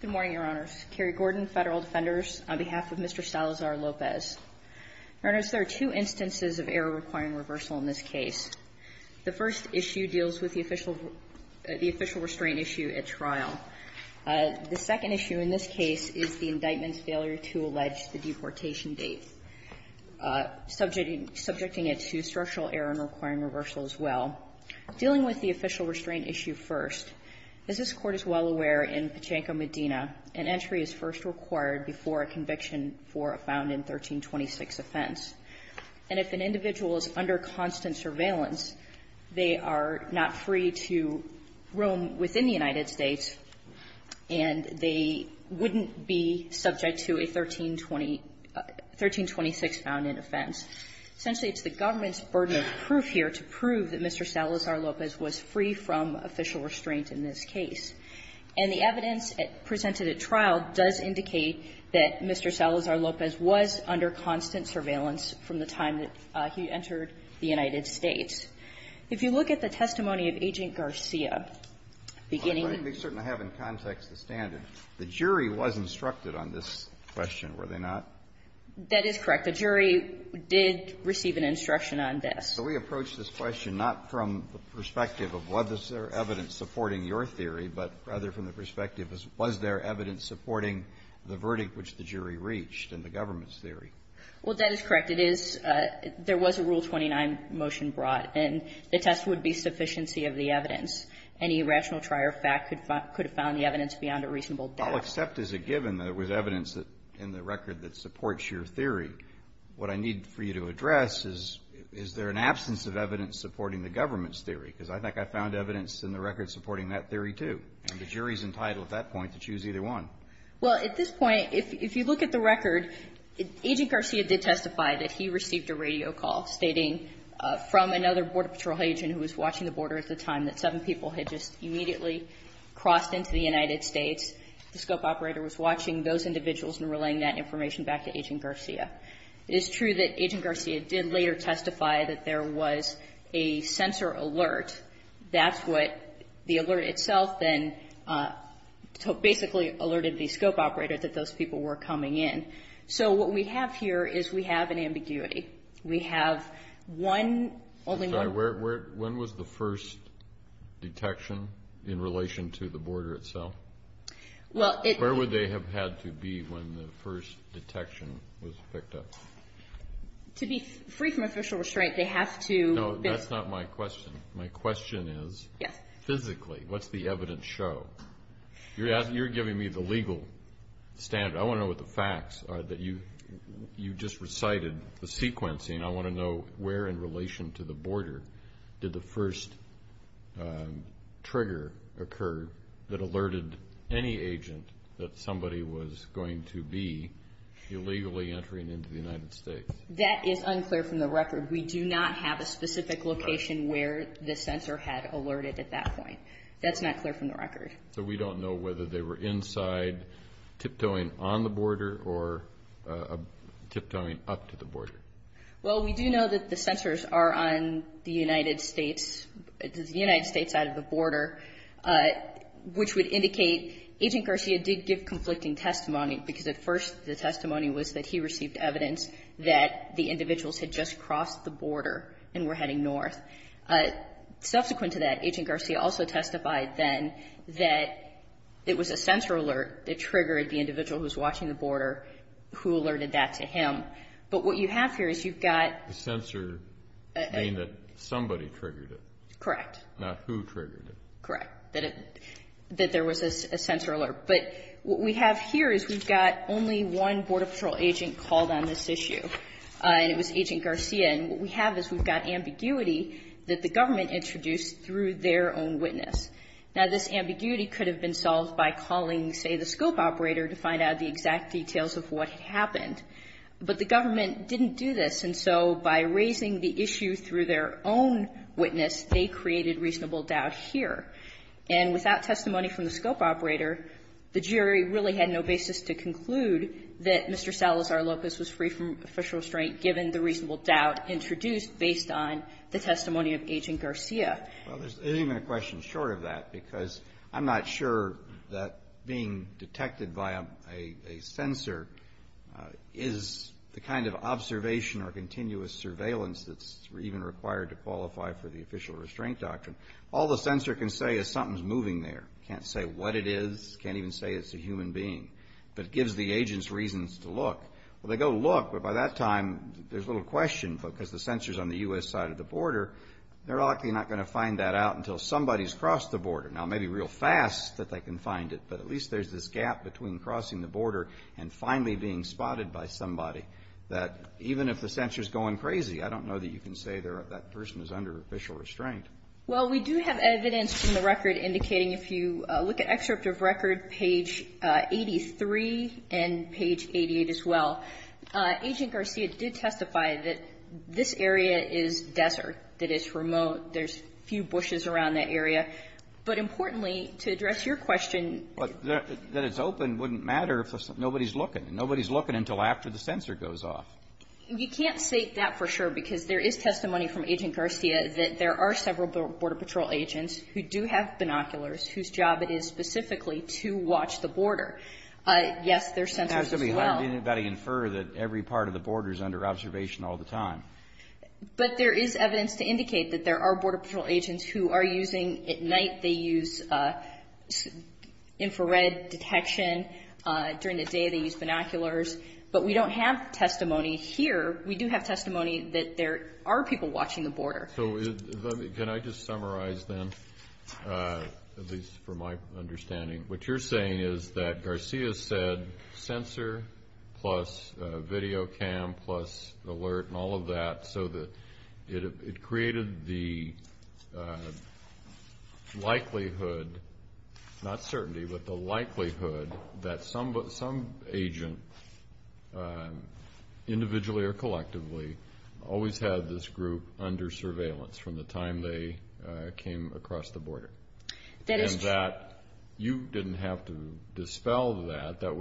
Good morning, Your Honors. Carrie Gordon, Federal Defenders, on behalf of Mr. Salazar-Lopez. Your Honors, there are two instances of error requiring reversal in this case. The first issue deals with the official restraint issue at trial. The second issue in this case is the indictment's failure to allege the deportation date, subjecting it to structural error and requiring reversal as well. Dealing with the official restraint issue first, as this Court is well aware in Pachanko-Medina, an entry is first required before a conviction for a found-in 1326 offense. And if an individual is under constant surveillance, they are not free to roam within the United States, and they wouldn't be subject to a 1320 — 1326 found-in offense. Essentially, it's the government's burden of proof here to prove that Mr. Salazar-Lopez was free from official restraint in this case. And the evidence presented at trial does indicate that Mr. Salazar-Lopez was under constant surveillance from the time that he entered the United States. If you look at the testimony of Agent Garcia, beginning at the end of the trial, the jury was instructed on this question, were they not? That is correct. The jury did receive an instruction on this. So we approach this question not from the perspective of was there evidence supporting your theory, but rather from the perspective of was there evidence supporting the verdict which the jury reached in the government's theory? Well, that is correct. It is — there was a Rule 29 motion brought, and the test would be sufficiency of the evidence. Any rational trier of fact could have found the evidence beyond a reasonable doubt. How accept is it given there was evidence in the record that supports your theory? What I need for you to address is, is there an absence of evidence supporting the government's theory? Because I think I found evidence in the record supporting that theory, too. And the jury is entitled at that point to choose either one. Well, at this point, if you look at the record, Agent Garcia did testify that he received a radio call stating from another Border Patrol agent who was watching the border at the time that seven people had just immediately crossed into the United States. The scope operator was watching those individuals and relaying that information back to Agent Garcia. It is true that Agent Garcia did later testify that there was a sensor alert. That's what the alert itself then basically alerted the scope operator that those people were coming in. So what we have here is we have an ambiguity. We have one only one. When was the first detection in relation to the border itself? Where would they have had to be when the first detection was picked up? To be free from official restraint, they have to... No, that's not my question. My question is physically, what's the evidence show? You're giving me the legal standard. I want to know what the facts are that you just recited the sequencing. I want to know where in relation to the border did the first trigger occur that alerted any agent that somebody was going to be illegally entering into the United States. That is unclear from the record. We do not have a specific location where the sensor had alerted at that point. That's not clear from the record. So we don't know whether they were inside tiptoeing on the border or tiptoeing up to the border? Well, we do know that the sensors are on the United States, the United States side of the border, which would indicate Agent Garcia did give conflicting testimony because at first the testimony was that he received evidence that the individuals had just crossed the border and were heading north. Subsequent to that, Agent Garcia also testified then that it was a sensor alert that triggered the individual who's watching the border who alerted that to him. But what you have here is you've got. The sensor being that somebody triggered it. Correct. Not who triggered it. Correct. That there was a sensor alert. But what we have here is we've got only one Border Patrol agent called on this issue, and it was Agent Garcia. And what we have is we've got ambiguity that the government introduced through their own witness. Now, this ambiguity could have been solved by calling, say, the scope operator to find out the exact details of what happened. But the government didn't do this. And so by raising the issue through their own witness, they created reasonable doubt here. And without testimony from the scope operator, the jury really had no basis to conclude that Mr. Salazar-Lopez was free from official restraint given the reasonable doubt introduced based on the testimony of Agent Garcia. Well, there's even a question short of that, because I'm not sure that being detected by a sensor is the kind of observation or continuous surveillance that's even required to qualify for the official restraint doctrine. All the sensor can say is something's moving there. Can't say what it is. Can't even say it's a human being. But it gives the agents reasons to look. Well, they go look, but by that time, there's little question, because the sensor's on the U.S. side of the border. They're likely not going to find that out until somebody's crossed the border. Now, it may be real fast that they can find it, but at least there's this gap between crossing the border and finally being spotted by somebody that even if the sensor's going crazy, I don't know that you can say that person is under official restraint. Well, we do have evidence from the record indicating if you look at excerpt of record page 83 and page 88 as well, Agent Garcia did testify that this area is desert. That it's remote. There's few bushes around that area. But importantly, to address your question that it's open wouldn't matter if nobody's looking. And nobody's looking until after the sensor goes off. You can't say that for sure, because there is testimony from Agent Garcia that there are several Border Patrol agents who do have binoculars whose job it is specifically to watch the border. Yes, there's sensors as well. Has anybody inferred that every part of the border is under observation all the time? But there is evidence to indicate that there are Border Patrol agents who are using, at night they use infrared detection, during the day they use binoculars, but we don't have testimony here. We do have testimony that there are people watching the border. So, can I just summarize then, at least from my understanding. What you're saying is that Garcia said sensor plus video cam plus alert and all of that so that it created the likelihood, not certainty, but the likelihood that some agent, individually or collectively, always had this group under surveillance from the time they came across the border. That is true. You didn't have to dispel that. That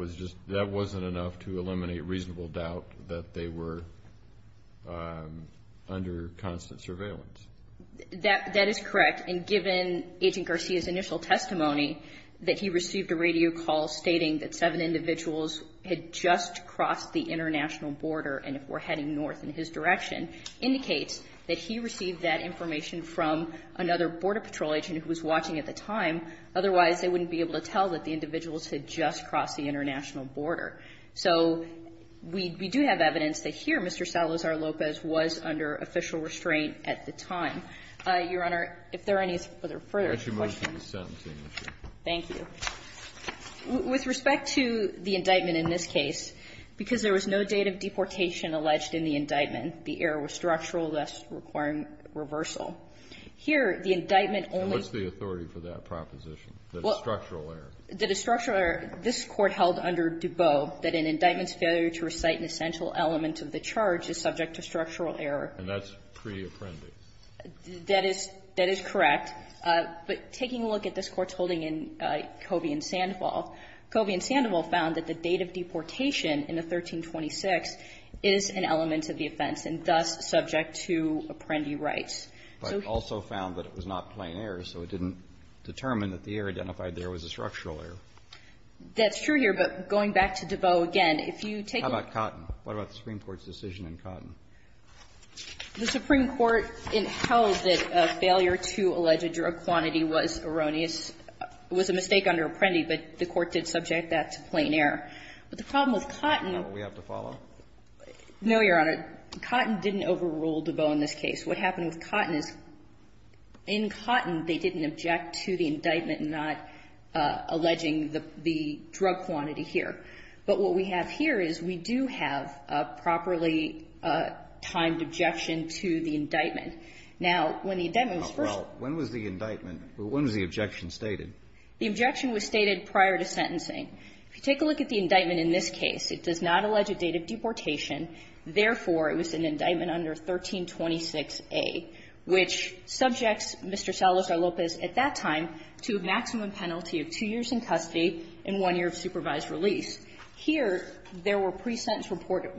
wasn't enough to eliminate reasonable doubt that they were under constant surveillance. That is correct. And given Agent Garcia's initial testimony that he received a radio call stating that seven individuals had just crossed the international border. And if we're heading north in his direction, indicates that he received that information from another Border Patrol agent who was watching at the time. Otherwise, they wouldn't be able to tell that the individuals had just crossed the international border. So, we do have evidence that here, Mr. Salazar-Lopez was under official restraint at the time. Your Honor, if there are any further questions. Thank you. With respect to the indictment in this case, because there was no date of deportation alleged in the indictment, the error was structural, thus requiring reversal. Here, the indictment only What's the authority for that proposition, that it's structural error? That it's structural error. This Court held under DuBose that an indictment's failure to recite an essential element of the charge is subject to structural error. And that's pre-apprendice. That is correct. But taking a look at this Court's holding in Covey and Sandoval, Covey and Sandoval found that the date of deportation in the 1326 is an element of the offense and thus subject to apprendee rights. But also found that it was not plain error, so it didn't determine that the error identified there was a structural error. That's true here, but going back to DuBose again, if you take a look at the Supreme Court's decision in Cotton. The drug quantity was erroneous, was a mistake under apprendee, but the Court did subject that to plain error. But the problem with Cotton We have to follow? No, Your Honor. Cotton didn't overrule DuBose in this case. What happened with Cotton is in Cotton, they didn't object to the indictment not alleging the drug quantity here. But what we have here is we do have a properly timed objection to the indictment. Now, when the indictment was first When was the indictment? When was the objection stated? The objection was stated prior to sentencing. If you take a look at the indictment in this case, it does not allege a date of deportation. Therefore, it was an indictment under 1326a, which subjects Mr. Salazar-Lopez at that time to a maximum penalty of two years in custody and one year of supervised release. Here, there were pre-sentence report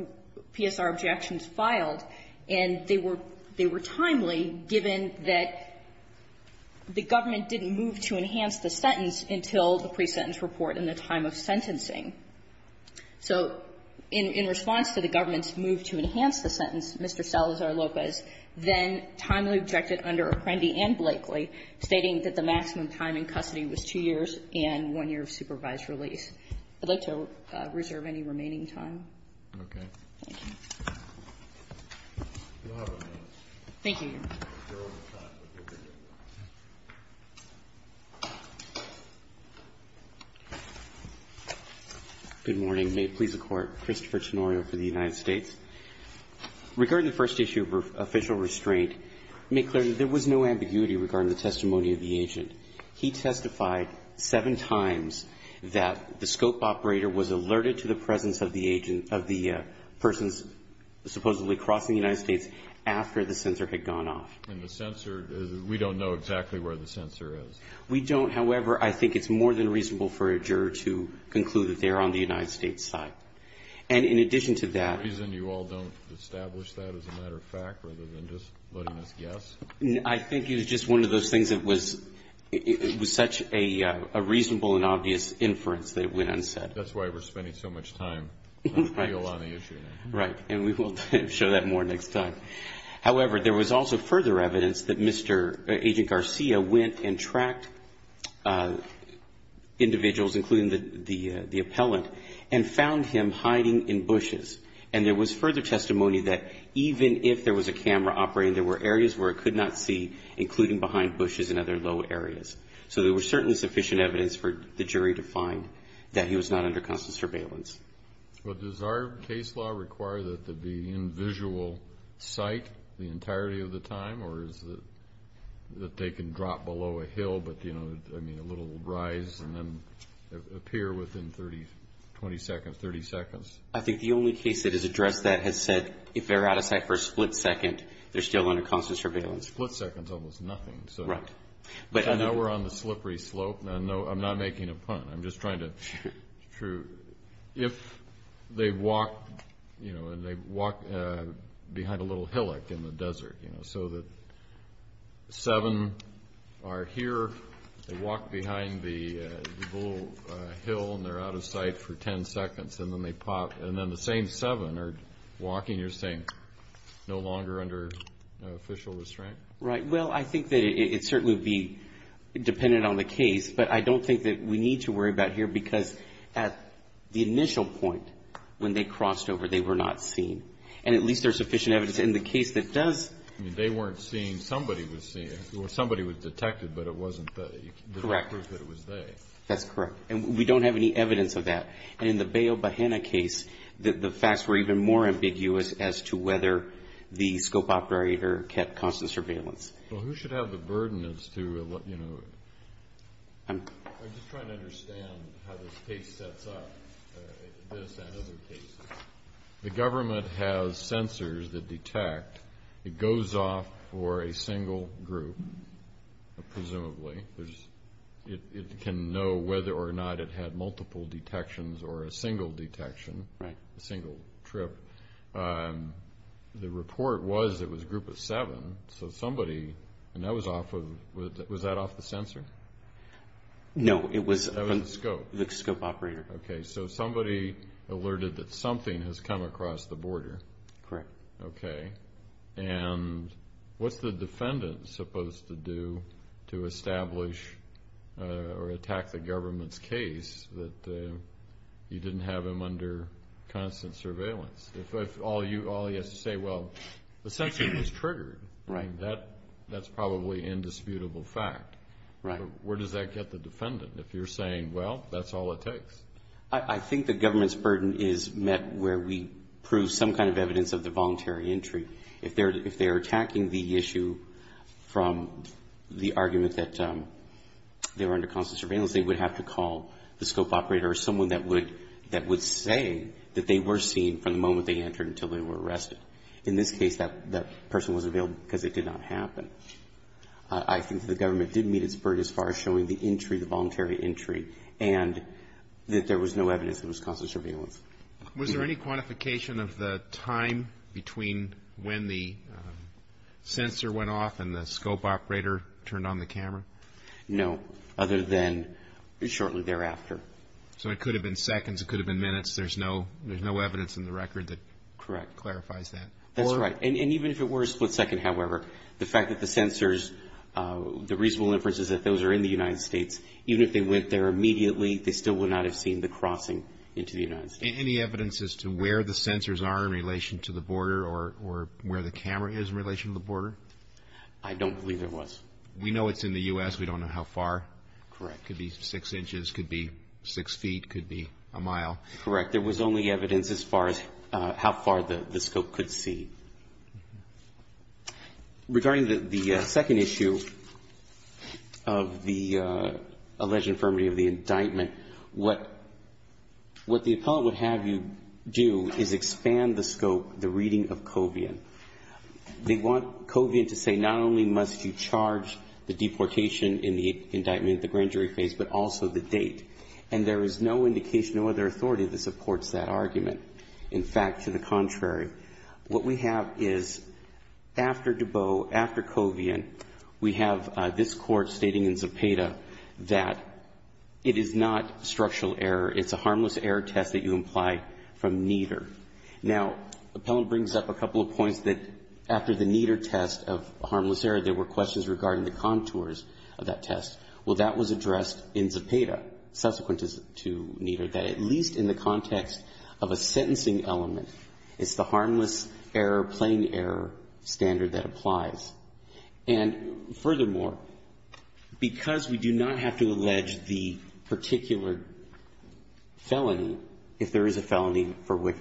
PSR objections filed, and they were they were timely, given that the government didn't move to enhance the sentence until the pre-sentence report in the time of sentencing. So in response to the government's move to enhance the sentence, Mr. Salazar-Lopez then timely objected under Apprendi and Blakely, stating that the maximum time in custody was two years and one year of supervised release. I'd like to reserve any remaining time. Thank you. Thank you. Good morning. May it please the Court. Christopher Tenorio for the United States. Regarding the first issue of official restraint, make clear that there was no ambiguity regarding the testimony of the agent. He testified seven times that the scope operator was alerted to the presence of the agent supposedly crossing the United States after the censor had gone off. And the censor, we don't know exactly where the censor is. We don't. However, I think it's more than reasonable for a juror to conclude that they are on the United States side. And in addition to that. Is there a reason you all don't establish that as a matter of fact, rather than just letting us guess? I think it is just one of those things that was such a reasonable and obvious inference that it went unsaid. That's why we're spending so much time on the issue. Right. And we will show that more next time. However, there was also further evidence that Mr. Agent Garcia went and tracked individuals, including the appellant, and found him hiding in bushes. And there was further testimony that even if there was a camera operating, there were areas where it could not see, including behind bushes and other low areas. So there was certainly sufficient evidence for the jury to find that he was not under constant surveillance. Well, does our case law require that they be in visual sight the entirety of the time? Or is it that they can drop below a hill, but, you know, I mean, a little rise and then appear within 30 seconds? I think the only case that has addressed that has said if they're out of sight for a split second, they're still under constant surveillance. A split second is almost nothing. Right. I know we're on the slippery slope. I'm not making a pun. I'm just trying to. It's true. If they walk, you know, and they walk behind a little hillock in the desert, you know, so that seven are here, they walk behind the little hill, and they're out of sight for 10 seconds, and then they pop, and then the same seven are walking, you're saying no longer under official restraint? Right. Well, I think that it certainly would be dependent on the case. But I don't think that we need to worry about here, because at the initial point, when they crossed over, they were not seen. And at least there's sufficient evidence in the case that does. I mean, they weren't seen. Somebody was seen. Somebody was detected, but it wasn't they. Correct. It was they. That's correct. And we don't have any evidence of that. And in the Bayo Bahena case, the facts were even more ambiguous as to whether the scope operator kept constant surveillance. Well, who should have the burden as to, you know, I'm just trying to understand how this case sets up, this and other cases. The government has sensors that detect. It goes off for a single group, presumably. It can know whether or not it had multiple detections or a single detection, a single trip. But the report was it was a group of seven. So somebody, and that was off of, was that off the sensor? No, it was. That was the scope. The scope operator. Okay. So somebody alerted that something has come across the border. Correct. Okay. And what's the defendant supposed to do to establish or attack the government's case that you didn't have him under constant surveillance? If all he has to say, well, the sensor was triggered. Right. That's probably indisputable fact. Right. Where does that get the defendant if you're saying, well, that's all it takes? I think the government's burden is met where we prove some kind of evidence of the voluntary entry. If they're attacking the issue from the argument that they were under constant surveillance, they would have to call the scope operator or someone that would say that they were seen from the moment they entered until they were arrested. In this case, that person was available because it did not happen. I think the government did meet its burden as far as showing the entry, the voluntary entry, and that there was no evidence that it was constant surveillance. Was there any quantification of the time between when the sensor went off and the scope operator turned on the camera? No. Other than shortly thereafter. It could have been seconds. It could have been minutes. There's no evidence in the record that clarifies that. Correct. That's right. Even if it were a split second, however, the fact that the sensors, the reasonable inference is that those are in the United States. Even if they went there immediately, they still would not have seen the crossing into the United States. Any evidence as to where the sensors are in relation to the border or where the camera is in relation to the border? I don't believe there was. We know it's in the U.S. We don't know how far. Correct. It could be six inches. It could be six feet. It could be a mile. Correct. There was only evidence as far as how far the scope could see. Regarding the second issue of the alleged infirmity of the indictment, what the appellate would have you do is expand the scope, the reading of Covian. They want Covian to say not only must you charge the deportation in the indictment at the grand jury phase, but also the date. And there is no indication of other authority that supports that argument. In fact, to the contrary. What we have is, after Dubot, after Covian, we have this Court stating in Zepeda that it is not structural error. It's a harmless error test that you imply from neither. Now, the appellant brings up a couple of points that after the neither test of harmless error, there were questions regarding the contours of that test. Well, that was addressed in Zepeda, subsequent to neither. That at least in the context of a sentencing element, it's the harmless error, plain error standard that applies. And furthermore, because we do not have to allege the particular felony, if there is a felony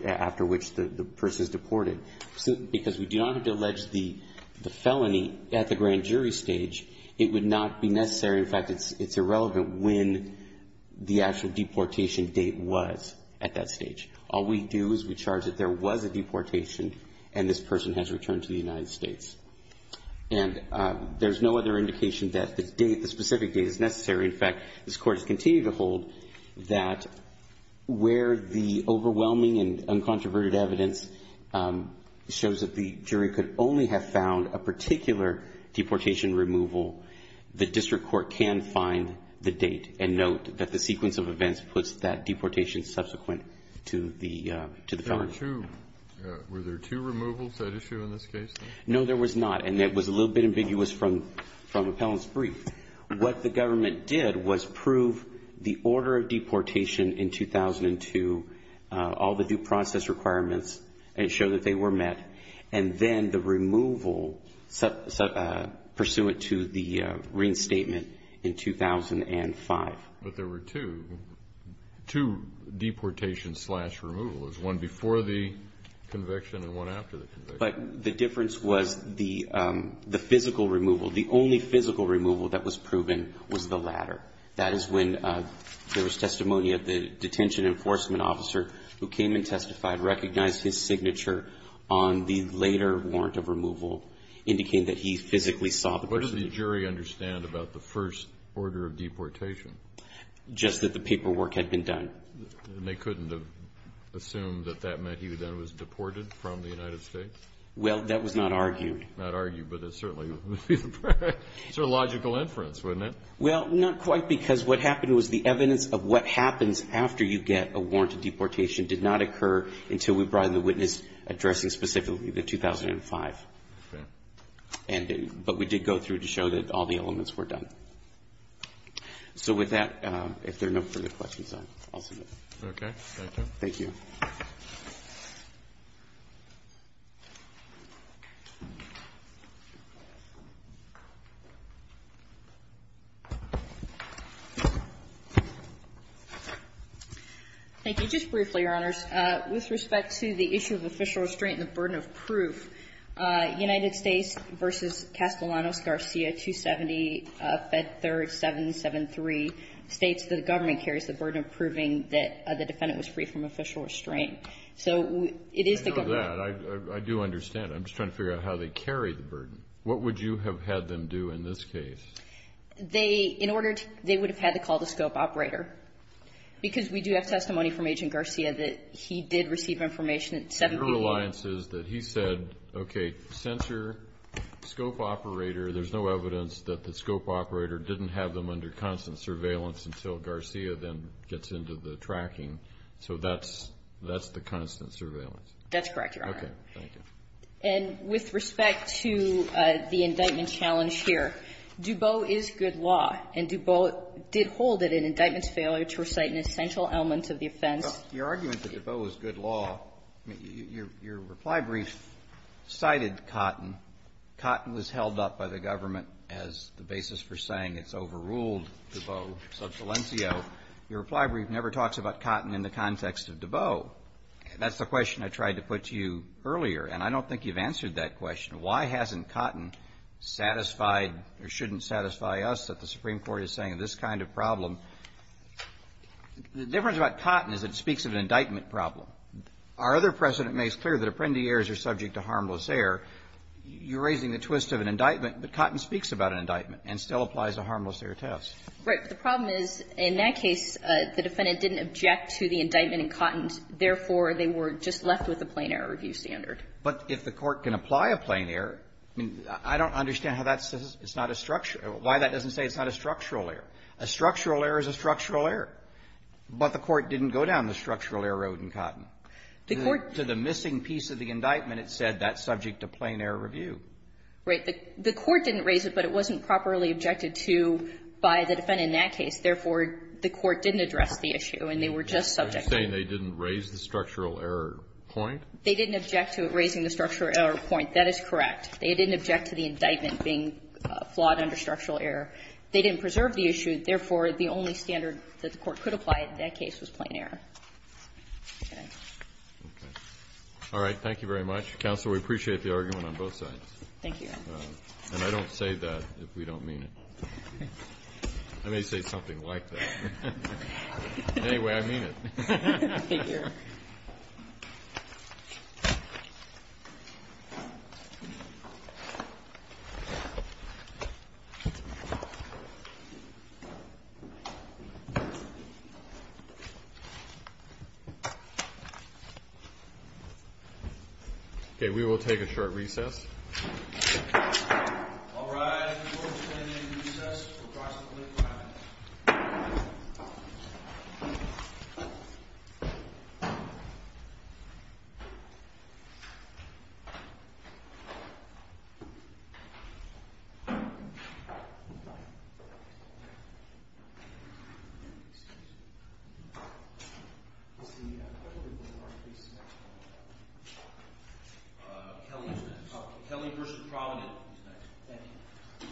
after which the person is deported, because we do not have to allege the felony at the grand jury stage, it would not be necessary. In fact, it's irrelevant when the actual deportation date was at that stage. All we do is we charge that there was a deportation and this person has returned to the United States. And there's no other indication that the date, the specific date is necessary. In fact, this Court has continued to hold that where the overwhelming and uncontroverted evidence shows that the jury could only have found a particular deportation removal, the district court can find the date and note that the sequence of events puts that deportation subsequent to the felony. Kennedy. Were there two removals at issue in this case? No, there was not. And it was a little bit ambiguous from Appellant's brief. What the government did was prove the order of deportation in 2002, all the due process requirements, and show that they were met. And then the removal pursuant to the reinstatement in 2005. But there were two. Two deportations slash removals. One before the conviction and one after the conviction. But the difference was the physical removal. The only physical removal that was proven was the latter. That is when there was testimony of the detention enforcement officer who came and testified, recognized his signature on the later warrant of removal, indicating that he physically saw the person. What does the jury understand about the first order of deportation? Just that the paperwork had been done. And they couldn't have assumed that that meant he then was deported from the United States? Well, that was not argued. Not argued. But it certainly was a logical inference, wasn't it? Well, not quite, because what happened was the evidence of what happens after you get a warrant of deportation did not occur until we brought in the witness addressing specifically the 2005. Okay. But we did go through to show that all the elements were done. So with that, if there are no further questions, I'll submit. Okay. Thank you. Thank you. Thank you. Just briefly, Your Honors. With respect to the issue of official restraint and the burden of proof, United States, the government carries the burden of proving that the defendant was free from official restraint. So it is the government. I know that. I do understand. I'm just trying to figure out how they carry the burden. What would you have had them do in this case? They would have had to call the scope operator, because we do have testimony from Agent Garcia that he did receive information at 7 p.m. Your reliance is that he said, okay, censor, scope operator, there's no evidence that the scope operator didn't have them under constant surveillance until Garcia then gets into the tracking. So that's the constant surveillance. That's correct, Your Honor. Okay. Thank you. And with respect to the indictment challenge here, DuBose is good law, and DuBose did hold it in indictment's failure to recite an essential element of the offense. Your argument that DuBose is good law, your reply brief cited Cotton. Cotton was held up by the government as the basis for saying it's overruled DuBose sub salientio. Your reply brief never talks about Cotton in the context of DuBose. That's the question I tried to put to you earlier, and I don't think you've answered that question. Why hasn't Cotton satisfied or shouldn't satisfy us that the Supreme Court is saying this kind of problem? The difference about Cotton is it speaks of an indictment Our other precedent makes clear that apprendi airs are subject to harmless air. You're raising the twist of an indictment, but Cotton speaks about an indictment and still applies a harmless air test. Right. But the problem is, in that case, the defendant didn't object to the indictment in Cotton. Therefore, they were just left with a plain error review standard. But if the Court can apply a plain error, I mean, I don't understand how that says it's not a structural error. Why that doesn't say it's not a structural error. A structural error is a structural error. But the Court didn't go down the structural error road in Cotton. To the missing piece of the indictment, it said that's subject to plain error review. Right. The Court didn't raise it, but it wasn't properly objected to by the defendant in that case. Therefore, the Court didn't address the issue, and they were just subject to it. You're saying they didn't raise the structural error point? They didn't object to raising the structural error point. That is correct. They didn't object to the indictment being flawed under structural error. They didn't preserve the issue. Therefore, the only standard that the Court could apply in that case was plain error. Okay. Okay. All right. Thank you very much. Counsel, we appreciate the argument on both sides. Thank you, Your Honor. And I don't say that if we don't mean it. I may say something like that. Anyway, I mean it. Thank you. Okay. We will take a short recess. All rise. Court is in recess for approximately five minutes. Thank you. Kelly is next. Kelly v. Provident is next. Thank you. Thank you.